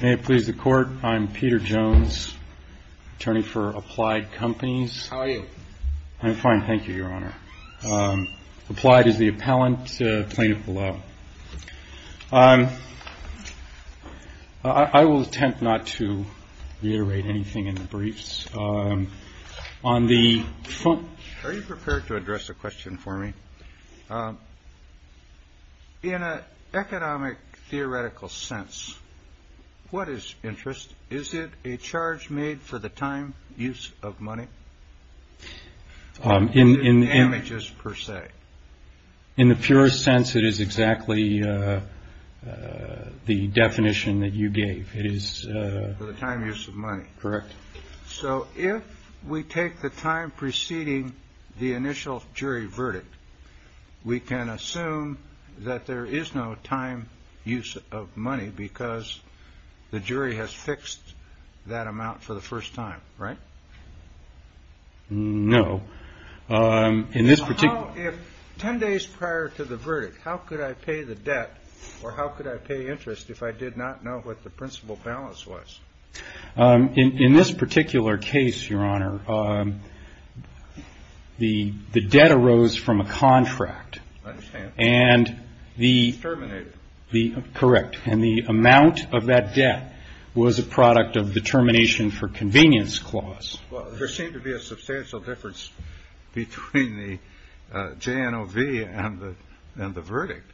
May it please the court, I'm Peter Jones, attorney for Applied Companies. How are you? I'm fine, thank you, your honor. Applied is the appellant, plaintiff below. I will attempt not to reiterate anything in the briefs. Are you prepared to address a question for me? In an economic theoretical sense, what is interest? Is it a charge made for the time use of money? In images per se. In the purest sense, it is exactly the definition that you gave. It is the time use of money. Correct. So if we take the time preceding the initial jury verdict, we can assume that there is no time use of money because the jury has fixed that amount for the first time, right? No. In this particular 10 days prior to the verdict, how could I pay the debt or how could I pay interest if I did not know what the principal balance was? In this particular case, your honor, the debt arose from a contract. I understand. And the. It was terminated. Correct. And the amount of that debt was a product of the termination for convenience clause. Well, there seemed to be a substantial difference between the JNOV and the verdict.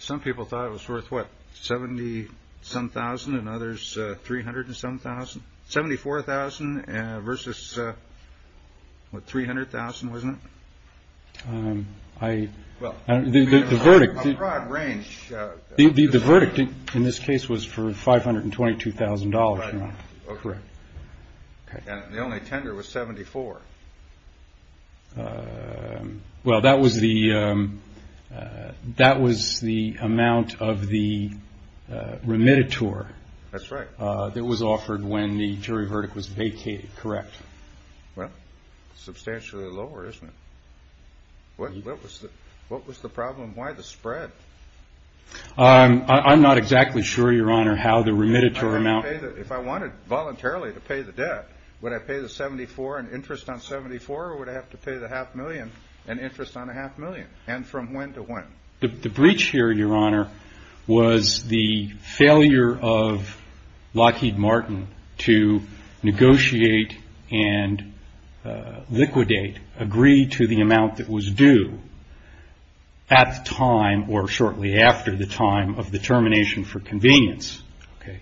Some people thought it was worth what? Seventy some thousand and others. Three hundred and some thousand. Seventy four thousand versus. What? Three hundred thousand wasn't. I. Well, the verdict range. The verdict in this case was for five hundred and twenty two thousand dollars. Correct. The only tender was seventy four. Well, that was the that was the amount of the remitted tour. That's right. That was offered when the jury verdict was vacated. Correct. Well, substantially lower, isn't it? What was the what was the problem? Why the spread? I'm not exactly sure, your honor, how the remitted tour amount. If I wanted voluntarily to pay the debt, would I pay the seventy four and interest on seventy four or would I have to pay the half million and interest on a half million? And from when to when? The breach here, your honor, was the failure of Lockheed Martin to negotiate and liquidate agree to the amount that was due. At the time or shortly after the time of the termination for convenience. OK.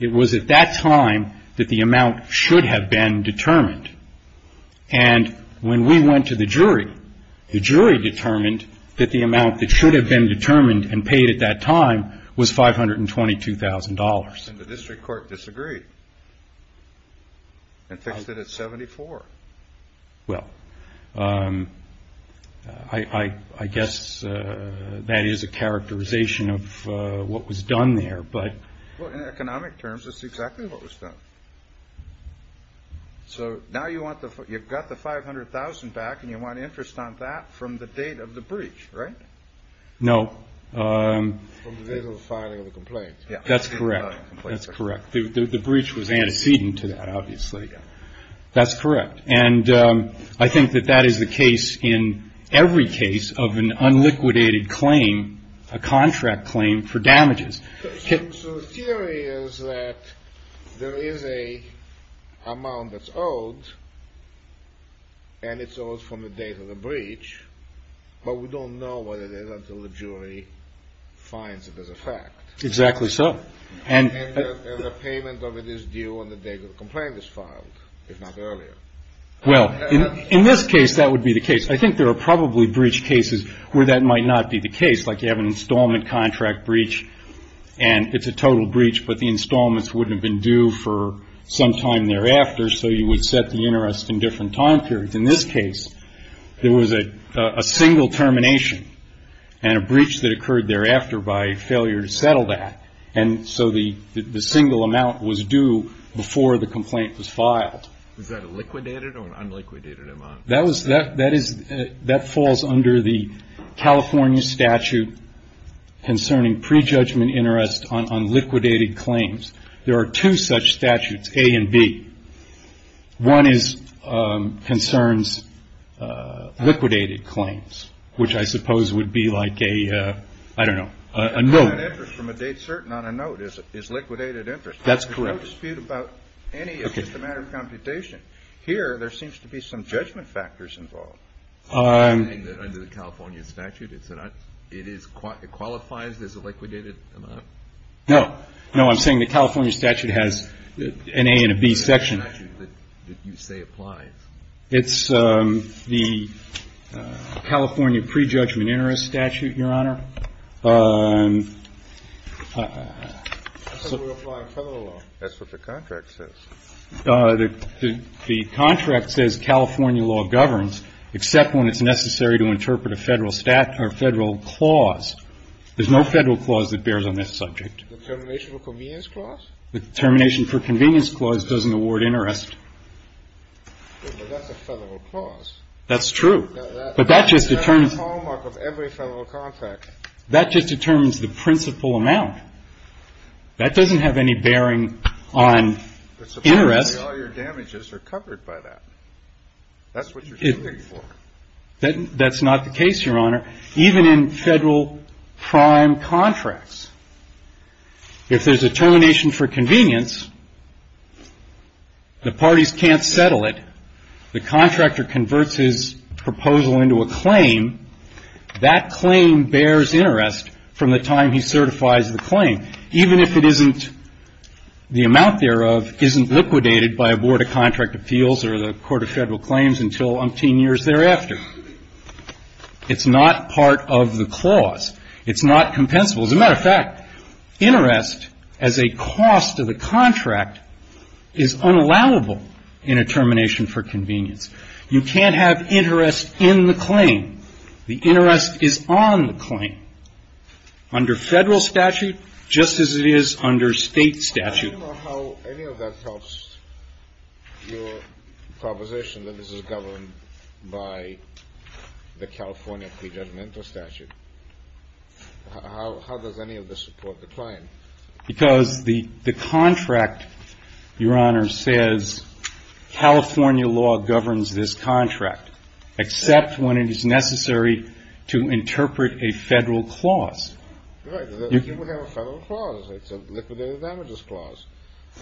It was at that time that the amount should have been determined. And when we went to the jury, the jury determined that the amount that should have been determined and paid at that time was five hundred and twenty two thousand dollars. The district court disagreed. And fixed it at seventy four. Well, I guess that is a characterization of what was done there. But in economic terms, that's exactly what was done. So now you want the you've got the five hundred thousand back and you want interest on that from the date of the breach. Right. No. Filing a complaint. Yeah, that's correct. That's correct. The breach was antecedent to that, obviously. That's correct. And I think that that is the case in every case of an unliquidated claim, a contract claim for damages. So the theory is that there is a amount that's owed. And it's owed from the date of the breach. But we don't know what it is until the jury finds it as a fact. Exactly so. And the payment of it is due on the day the complaint is filed, if not earlier. Well, in this case, that would be the case. I think there are probably breach cases where that might not be the case. Like you have an installment contract breach and it's a total breach, but the installments wouldn't have been due for some time thereafter. So you would set the interest in different time periods. In this case, there was a single termination and a breach that occurred thereafter by failure to settle that. And so the single amount was due before the complaint was filed. Is that a liquidated or an unliquidated amount? That falls under the California statute concerning prejudgment interest on liquidated claims. There are two such statutes, A and B. One concerns liquidated claims, which I suppose would be like a, I don't know, a note. An interest from a date certain on a note is liquidated interest. That's correct. There's no dispute about any, it's just a matter of computation. Here, there seems to be some judgment factors involved. Is that something that under the California statute, it qualifies as a liquidated amount? No. No, I'm saying the California statute has an A and a B section. What is the California statute that you say applies? It's the California prejudgment interest statute, Your Honor. That's what the contract says. The contract says California law governs except when it's necessary to interpret a Federal clause. There's no Federal clause that bears on this subject. The termination for convenience clause? The termination for convenience clause doesn't award interest. But that's a Federal clause. That's true. But that just determines. That's a hallmark of every Federal contract. That just determines the principal amount. That doesn't have any bearing on interest. All your damages are covered by that. That's what you're suing for. That's not the case, Your Honor. Even in Federal prime contracts, if there's a termination for convenience, the parties can't settle it. The contractor converts his proposal into a claim. That claim bears interest from the time he certifies the claim, even if it isn't the amount thereof isn't liquidated by a board of contract appeals or the court of Federal claims until umpteen years thereafter. It's not part of the clause. It's not compensable. As a matter of fact, interest as a cost of a contract is unallowable in a termination for convenience. You can't have interest in the claim. The interest is on the claim. Under Federal statute, just as it is under State statute. Do you know how any of that helps your proposition that this is governed by the California prejudgmental statute? How does any of this support the claim? Because the contract, Your Honor, says California law governs this contract, except when it is necessary to interpret a Federal clause. Right. You would have a Federal clause. It's a liquidated damages clause.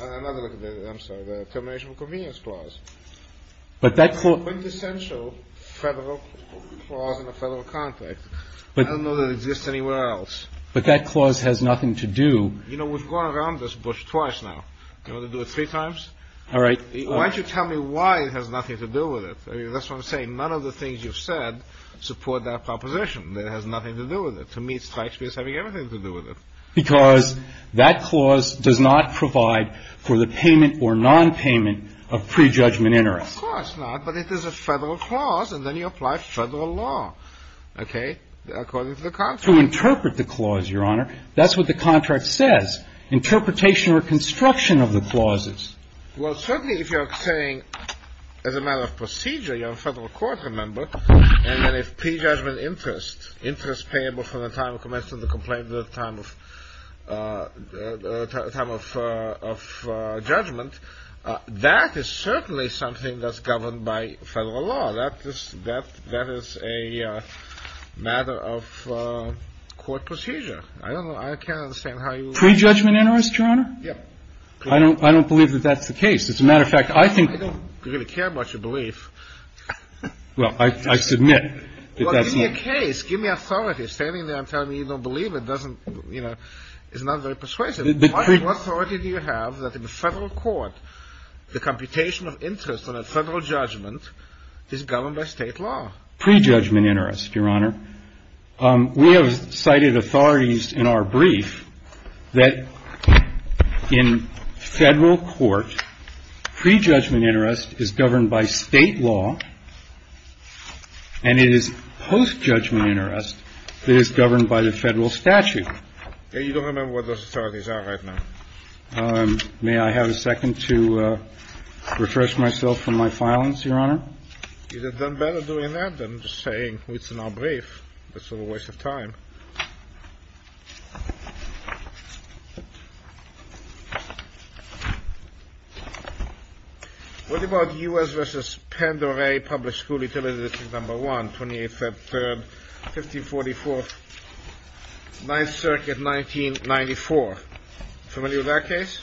Another liquidated, I'm sorry, the termination of convenience clause. But that's a quintessential Federal clause in a Federal contract. I don't know that it exists anywhere else. But that clause has nothing to do. You know, we've gone around this bush twice now. Do you want to do it three times? All right. Why don't you tell me why it has nothing to do with it? That's what I'm saying. None of the things you've said support that proposition. It has nothing to do with it. To me, it strikes me as having everything to do with it. Because that clause does not provide for the payment or nonpayment of prejudgment interest. Of course not. But it is a Federal clause, and then you apply Federal law, okay, according to the contract. To interpret the clause, Your Honor. That's what the contract says. Interpretation or construction of the clauses. Well, certainly if you're saying as a matter of procedure, you're a Federal court member, and then if prejudgment interest, interest payable from the time of commission of the complaint to the time of judgment, that is certainly something that's governed by Federal law. That is a matter of court procedure. I don't know. I can't understand how you would. Prejudgment interest, Your Honor? Yeah. I don't believe that that's the case. As a matter of fact, I think. I don't really care about your belief. Well, I submit that that's not. Give me a case. Give me authority. Standing there and telling me you don't believe it doesn't, you know, is not very persuasive. What authority do you have that in a Federal court, the computation of interest on a Federal judgment is governed by State law? Prejudgment interest, Your Honor. We have cited authorities in our brief that in Federal court, prejudgment interest is governed by State law. And it is post-judgment interest that is governed by the Federal statute. You don't remember what those authorities are right now. May I have a second to refresh myself from my violence, Your Honor? You've done better doing that than just saying it's in our brief. That's a waste of time. What about U.S. v. Pandora Public School Utility District No. 1, 28 Feb. 3, 1544, 9th Circuit, 1994? Familiar with that case?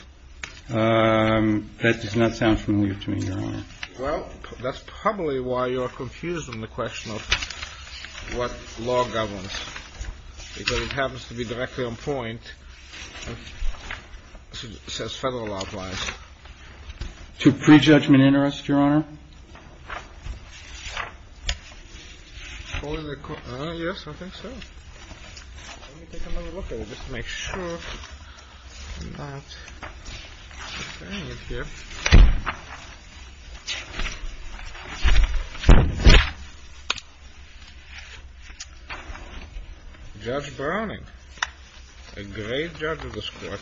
That does not sound familiar to me, Your Honor. Well, that's probably why you're confused on the question of what law governs. Because it happens to be directly on point. It says Federal law applies. Yes, I think so. Let me take another look at it just to make sure I'm not comparing it here. Judge Browning, a great judge of this court.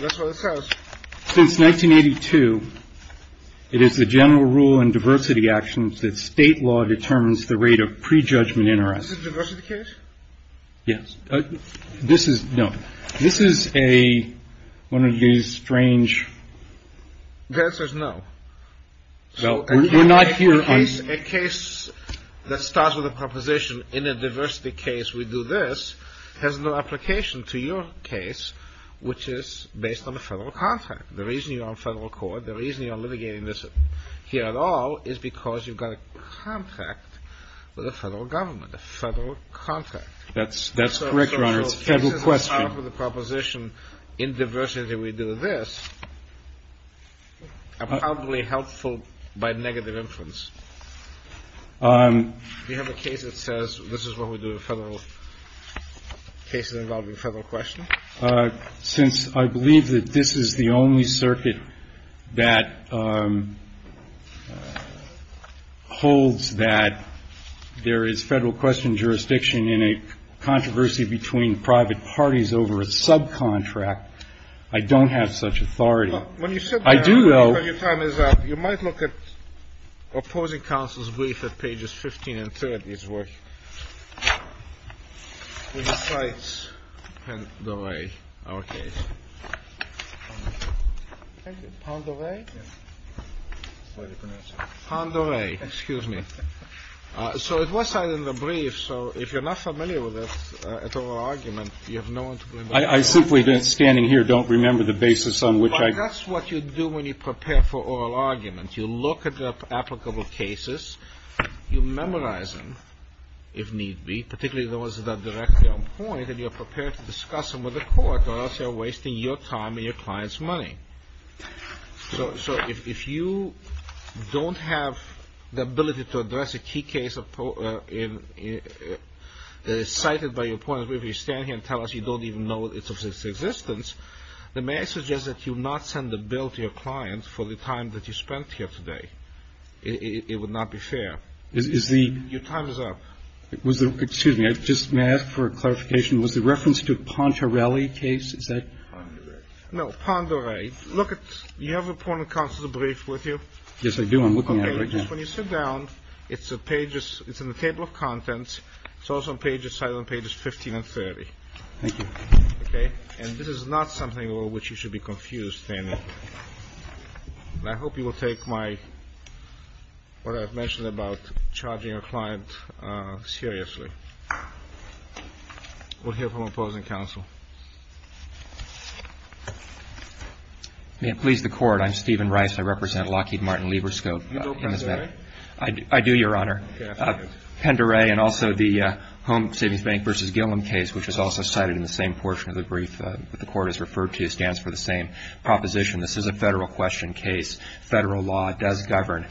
That's what it says. Since 1982, it is the general rule in diversity actions that state law determines the rate of prejudgment interest in the case. Yes. This is no. This is a one of these strange. The answer is no. A case that starts with a proposition in a diversity case, we do this, has no application to your case, which is based on a federal contract. The reason you're on federal court, the reason you're litigating this here at all is because you've got a contract with a federal government, a federal contract. That's correct, Your Honor. It's a federal question. The proposition in diversity, we do this. Probably helpful by negative influence. You have a case that says this is what we do in federal cases involving federal question. Since I believe that this is the only circuit that holds that there is federal question jurisdiction in a controversy between private parties over a subcontract, I don't have such authority. When you said I do, though, you might look at opposing counsel's brief at pages 15 and 30. It's worth the sites. And the way our case on the way on the way. Excuse me. So it was in the brief. So if you're not familiar with this argument, you have no one. I simply been standing here. Don't remember the basis on which I guess what you do when you prepare for oral arguments. You look at the applicable cases. You memorize them, if need be, particularly those that are directly on point. And you're prepared to discuss them with the court or else you're wasting your time and your client's money. So if you don't have the ability to address a key case cited by your point of view, you stand here and tell us you don't even know it's of existence. The message is that you not send the bill to your clients for the time that you spent here today. It would not be fair. Is the time is up. It was the excuse me. I just may ask for clarification. Was the reference to Ponterelli case. Is that no Ponterelli. Look, you have a point of concert, a brief with you. Yes, I do. I'm looking at it when you sit down. It's a pages. It's in the table of contents. It's also a page of silent pages 15 and 30. Thank you. OK. And this is not something which you should be confused. I hope you will take my what I've mentioned about charging a client seriously. We'll hear from opposing counsel. May it please the court. I'm Stephen Rice. I represent Lockheed Martin Libriscope. I do, Your Honor. Pendere and also the home savings bank versus Gilliam case, which is also cited in the same portion of the brief. The court is referred to stands for the same proposition. This is a federal question case. Federal law does govern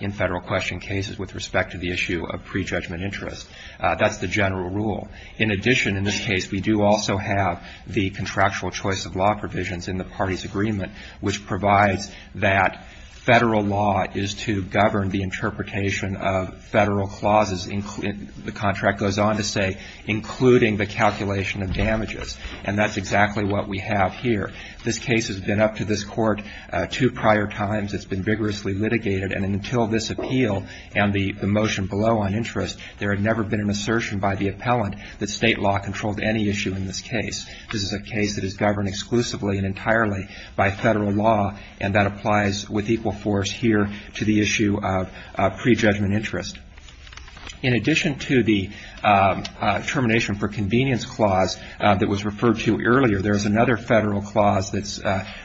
in federal question cases with respect to the issue of prejudgment interest. That's the general rule. In addition, in this case, we do also have the contractual choice of law provisions in the party's agreement, which provides that federal law is to govern the interpretation of federal clauses. The contract goes on to say, including the calculation of damages. And that's exactly what we have here. This case has been up to this court. Two prior times it's been vigorously litigated. And until this appeal and the motion below on interest, there had never been an assertion by the appellant that state law controlled any issue in this case. This is a case that is governed exclusively and entirely by federal law, and that applies with equal force here to the issue of prejudgment interest. In addition to the termination for convenience clause that was referred to earlier, there's another federal clause that's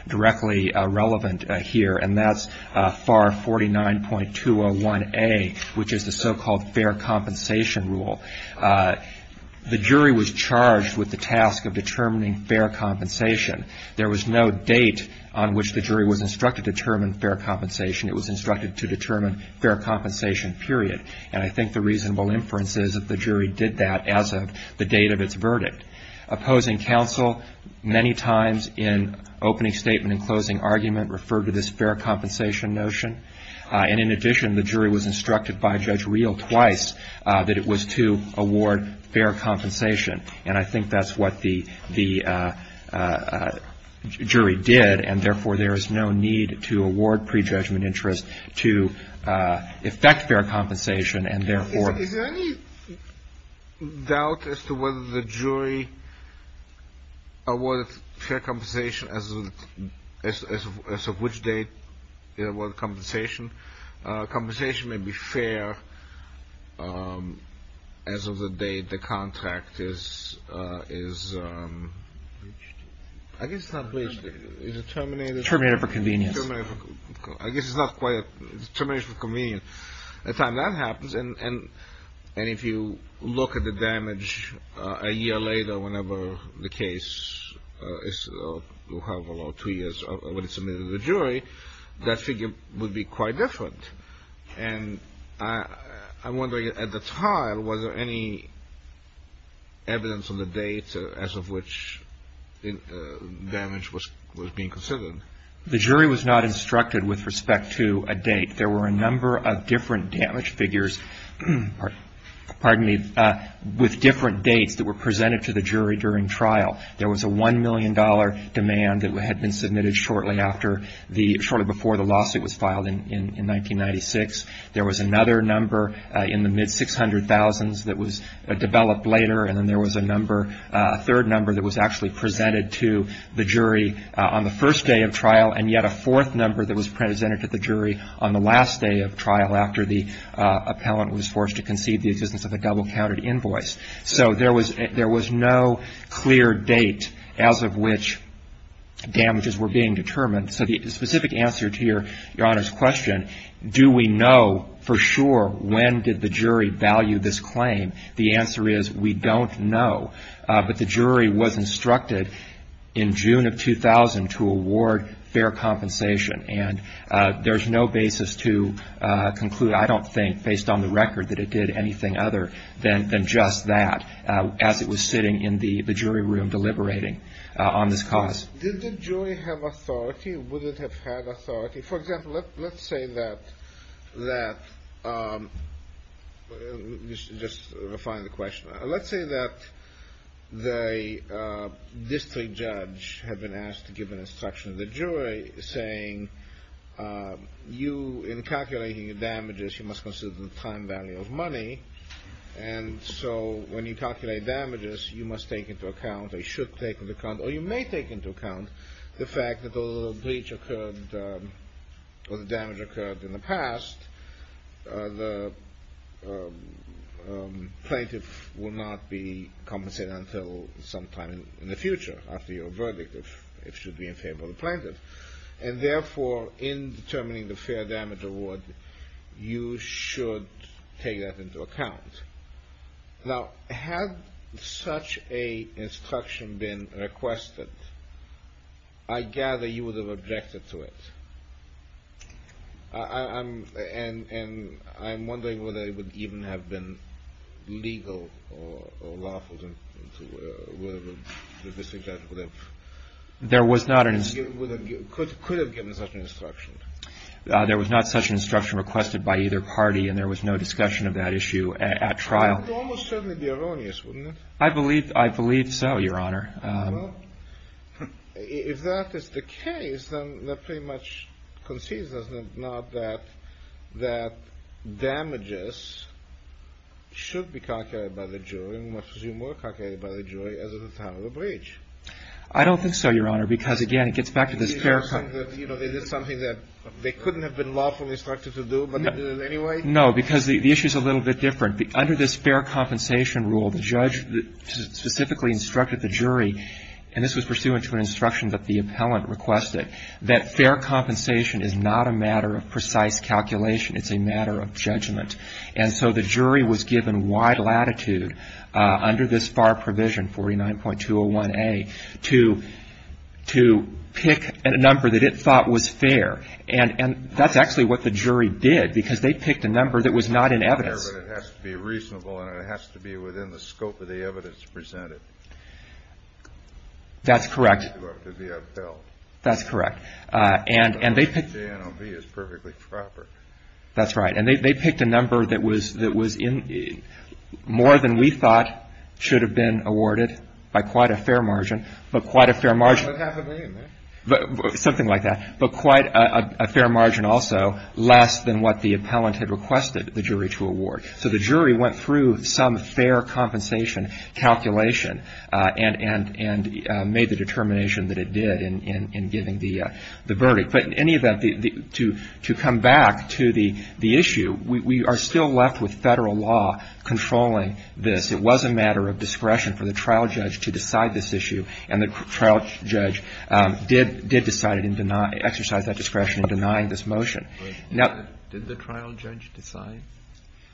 directly relevant here, and that's FAR 49.201A, which is the so-called fair compensation rule. The jury was charged with the task of determining fair compensation. There was no date on which the jury was instructed to determine fair compensation. It was instructed to determine fair compensation, period. And I think the reasonable inference is that the jury did that as of the date of its verdict. Opposing counsel many times in opening statement and closing argument referred to this fair compensation notion. And in addition, the jury was instructed by Judge Reel twice that it was to award fair compensation. And I think that's what the jury did. And, therefore, there is no need to award prejudgment interest to effect fair compensation, and, therefore — Doubt as to whether the jury awarded fair compensation as of which date it awarded compensation. Compensation may be fair as of the date the contract is — I guess it's not bleached. Is it terminated? Terminated for convenience. I guess it's not quite — it's terminated for convenience. And the time that happens, and if you look at the damage a year later, whenever the case is — or however long, two years, when it's submitted to the jury, that figure would be quite different. And I'm wondering, at the time, was there any evidence on the date as of which damage was being considered? The jury was not instructed with respect to a date. There were a number of different damage figures — pardon me — with different dates that were presented to the jury during trial. There was a $1 million demand that had been submitted shortly after the — shortly before the lawsuit was filed in 1996. There was another number in the mid-600,000s that was developed later, and then there was a number — a third number that was actually presented to the jury on the first day of trial, and yet a fourth number that was presented to the jury on the last day of trial, after the appellant was forced to concede the existence of a double-counted invoice. So there was — there was no clear date as of which damages were being determined. So the specific answer to Your Honor's question, do we know for sure when did the jury value this claim, the answer is we don't know. But the jury was instructed in June of 2000 to award fair compensation, and there's no basis to conclude, I don't think, based on the record, that it did anything other than just that as it was sitting in the jury room deliberating on this cause. Did the jury have authority? Would it have had authority? For example, let's say that — let's just refine the question. Let's say that the district judge had been asked to give an instruction to the jury saying, you, in calculating the damages, you must consider the time value of money, and so when you calculate damages, you must take into account, or you should take into account, or you may take into account the fact that the breach occurred, or the damage occurred in the past, the plaintiff will not be compensated until sometime in the future after your verdict, if it should be in favor of the plaintiff. And therefore, in determining the fair damage award, you should take that into account. Now, had such an instruction been requested, I gather you would have objected to it. And I'm wondering whether it would even have been legal or lawful to the district judge. There was not an — Could have given such an instruction. There was not such an instruction requested by either party, and there was no discussion of that issue at trial. It would almost certainly be erroneous, wouldn't it? I believe so, Your Honor. Well, if that is the case, then that pretty much concedes, doesn't it, not that damages should be calculated by the jury, and must be more calculated by the jury as of the time of the breach. I don't think so, Your Honor, because, again, it gets back to this terracotta — You know, they did something that they couldn't have been lawfully instructed to do, but they did it anyway? No, because the issue is a little bit different. Under this fair compensation rule, the judge specifically instructed the jury, and this was pursuant to an instruction that the appellant requested, that fair compensation is not a matter of precise calculation. It's a matter of judgment. And so the jury was given wide latitude under this FAR provision, 49.201A, to pick a number that it thought was fair. And that's actually what the jury did, because they picked a number that was not in evidence. It has to be reasonable, and it has to be within the scope of the evidence presented. That's correct. Up to the appellant. That's correct. And they picked — The NLB is perfectly proper. That's right. And they picked a number that was more than we thought should have been awarded by quite a fair margin, but quite a fair margin — About half a million, then. Something like that. But quite a fair margin also less than what the appellant had requested the jury to award. So the jury went through some fair compensation calculation and made the determination that it did in giving the verdict. But in any event, to come back to the issue, we are still left with Federal law controlling this. It was a matter of discretion for the trial judge to decide this issue, and the trial judge did decide and exercise that discretion in denying this motion. Now — Did the trial judge decide?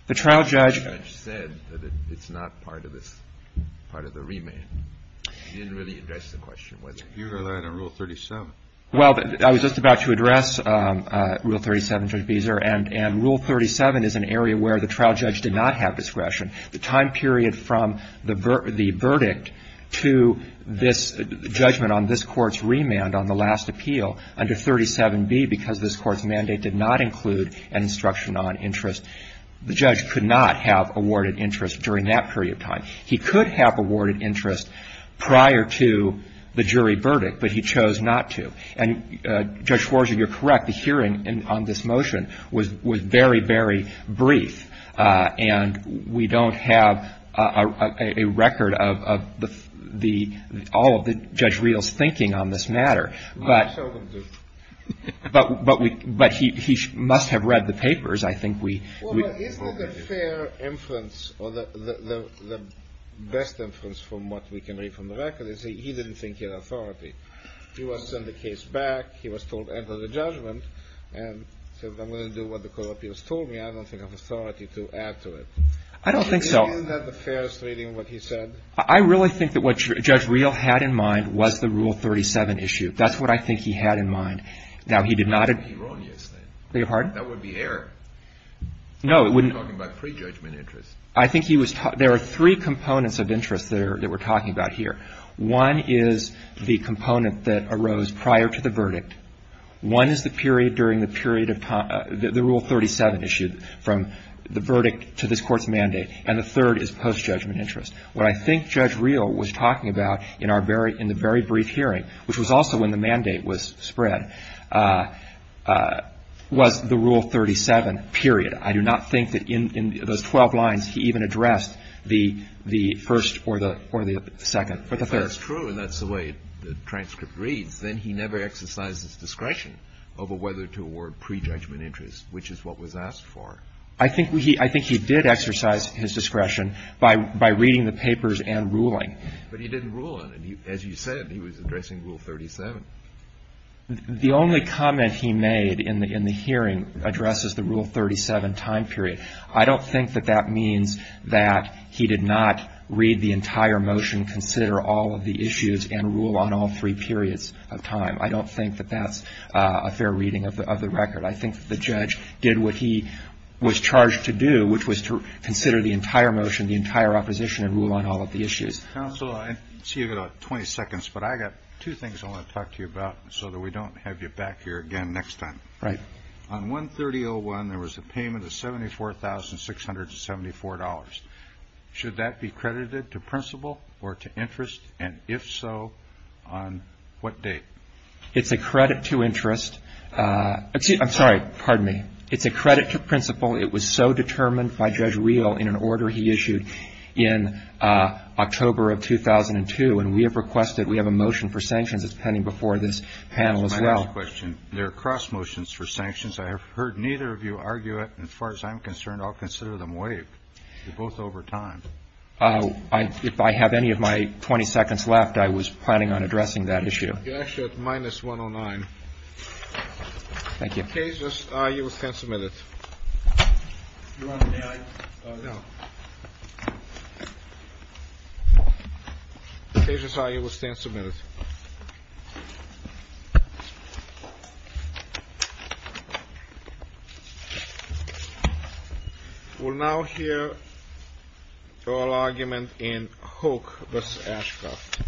The trial judge — The trial judge said that it's not part of this — part of the remand. He didn't really address the question whether — You relied on Rule 37. Well, I was just about to address Rule 37, Judge Beezer, and Rule 37 is an area where the trial judge did not have discretion. The time period from the verdict to this judgment on this Court's remand on the last appeal under 37B, because this Court's mandate did not include an instruction on interest, the judge could not have awarded interest during that period of time. He could have awarded interest prior to the jury verdict, but he chose not to. And, Judge Schwarzer, you're correct. The hearing on this motion was very, very brief. And we don't have a record of the — all of Judge Riehl's thinking on this matter. I'm sure we do. But he must have read the papers. I think we — Well, isn't it a fair inference, or the best inference from what we can read from the record, is that he didn't think he had authority. He was sent the case back. He was told, enter the judgment. And so if I'm going to do what the Court of Appeals told me, I don't think I have authority to add to it. I don't think so. Isn't that the fairest reading of what he said? I really think that what Judge Riehl had in mind was the Rule 37 issue. That's what I think he had in mind. Now, he did not — That would be erroneous, then. I beg your pardon? That would be error. No, it wouldn't. We're talking about prejudgment interest. I think he was — there are three components of interest that we're talking about here. One is the component that arose prior to the verdict. One is the period during the period of — the Rule 37 issue from the verdict to this Court's mandate. And the third is post-judgment interest. What I think Judge Riehl was talking about in our very — in the very brief hearing, which was also when the mandate was spread, was the Rule 37 period. I do not think that in those 12 lines he even addressed the first or the second or the third. That's true, and that's the way the transcript reads. Then he never exercised his discretion over whether to award prejudgment interest, which is what was asked for. I think he did exercise his discretion by reading the papers and ruling. But he didn't rule on it. As you said, he was addressing Rule 37. The only comment he made in the hearing addresses the Rule 37 time period. I don't think that that means that he did not read the entire motion, consider all of the issues, and rule on all three periods of time. I don't think that that's a fair reading of the record. I think the judge did what he was charged to do, which was to consider the entire motion, the entire opposition, and rule on all of the issues. Counsel, I see you've got about 20 seconds, but I've got two things I want to talk to you about so that we don't have you back here again next time. Right. On 130-01, there was a payment of $74,674. Should that be credited to principle or to interest? And if so, on what date? It's a credit to interest. I'm sorry. Pardon me. It's a credit to principle. It was so determined by Judge Real in an order he issued in October of 2002, and we have requested we have a motion for sanctions that's pending before this panel as well. That's my last question. There are cross motions for sanctions. I have heard neither of you argue it. As far as I'm concerned, I'll consider them waived. They're both over time. If I have any of my 20 seconds left, I was planning on addressing that issue. You're actually at minus 109. Thank you. The case is, you will stand submitted. Your Honor, may I? No. The case is, you will stand submitted. We'll now hear your argument in Hook v. Ashcroft.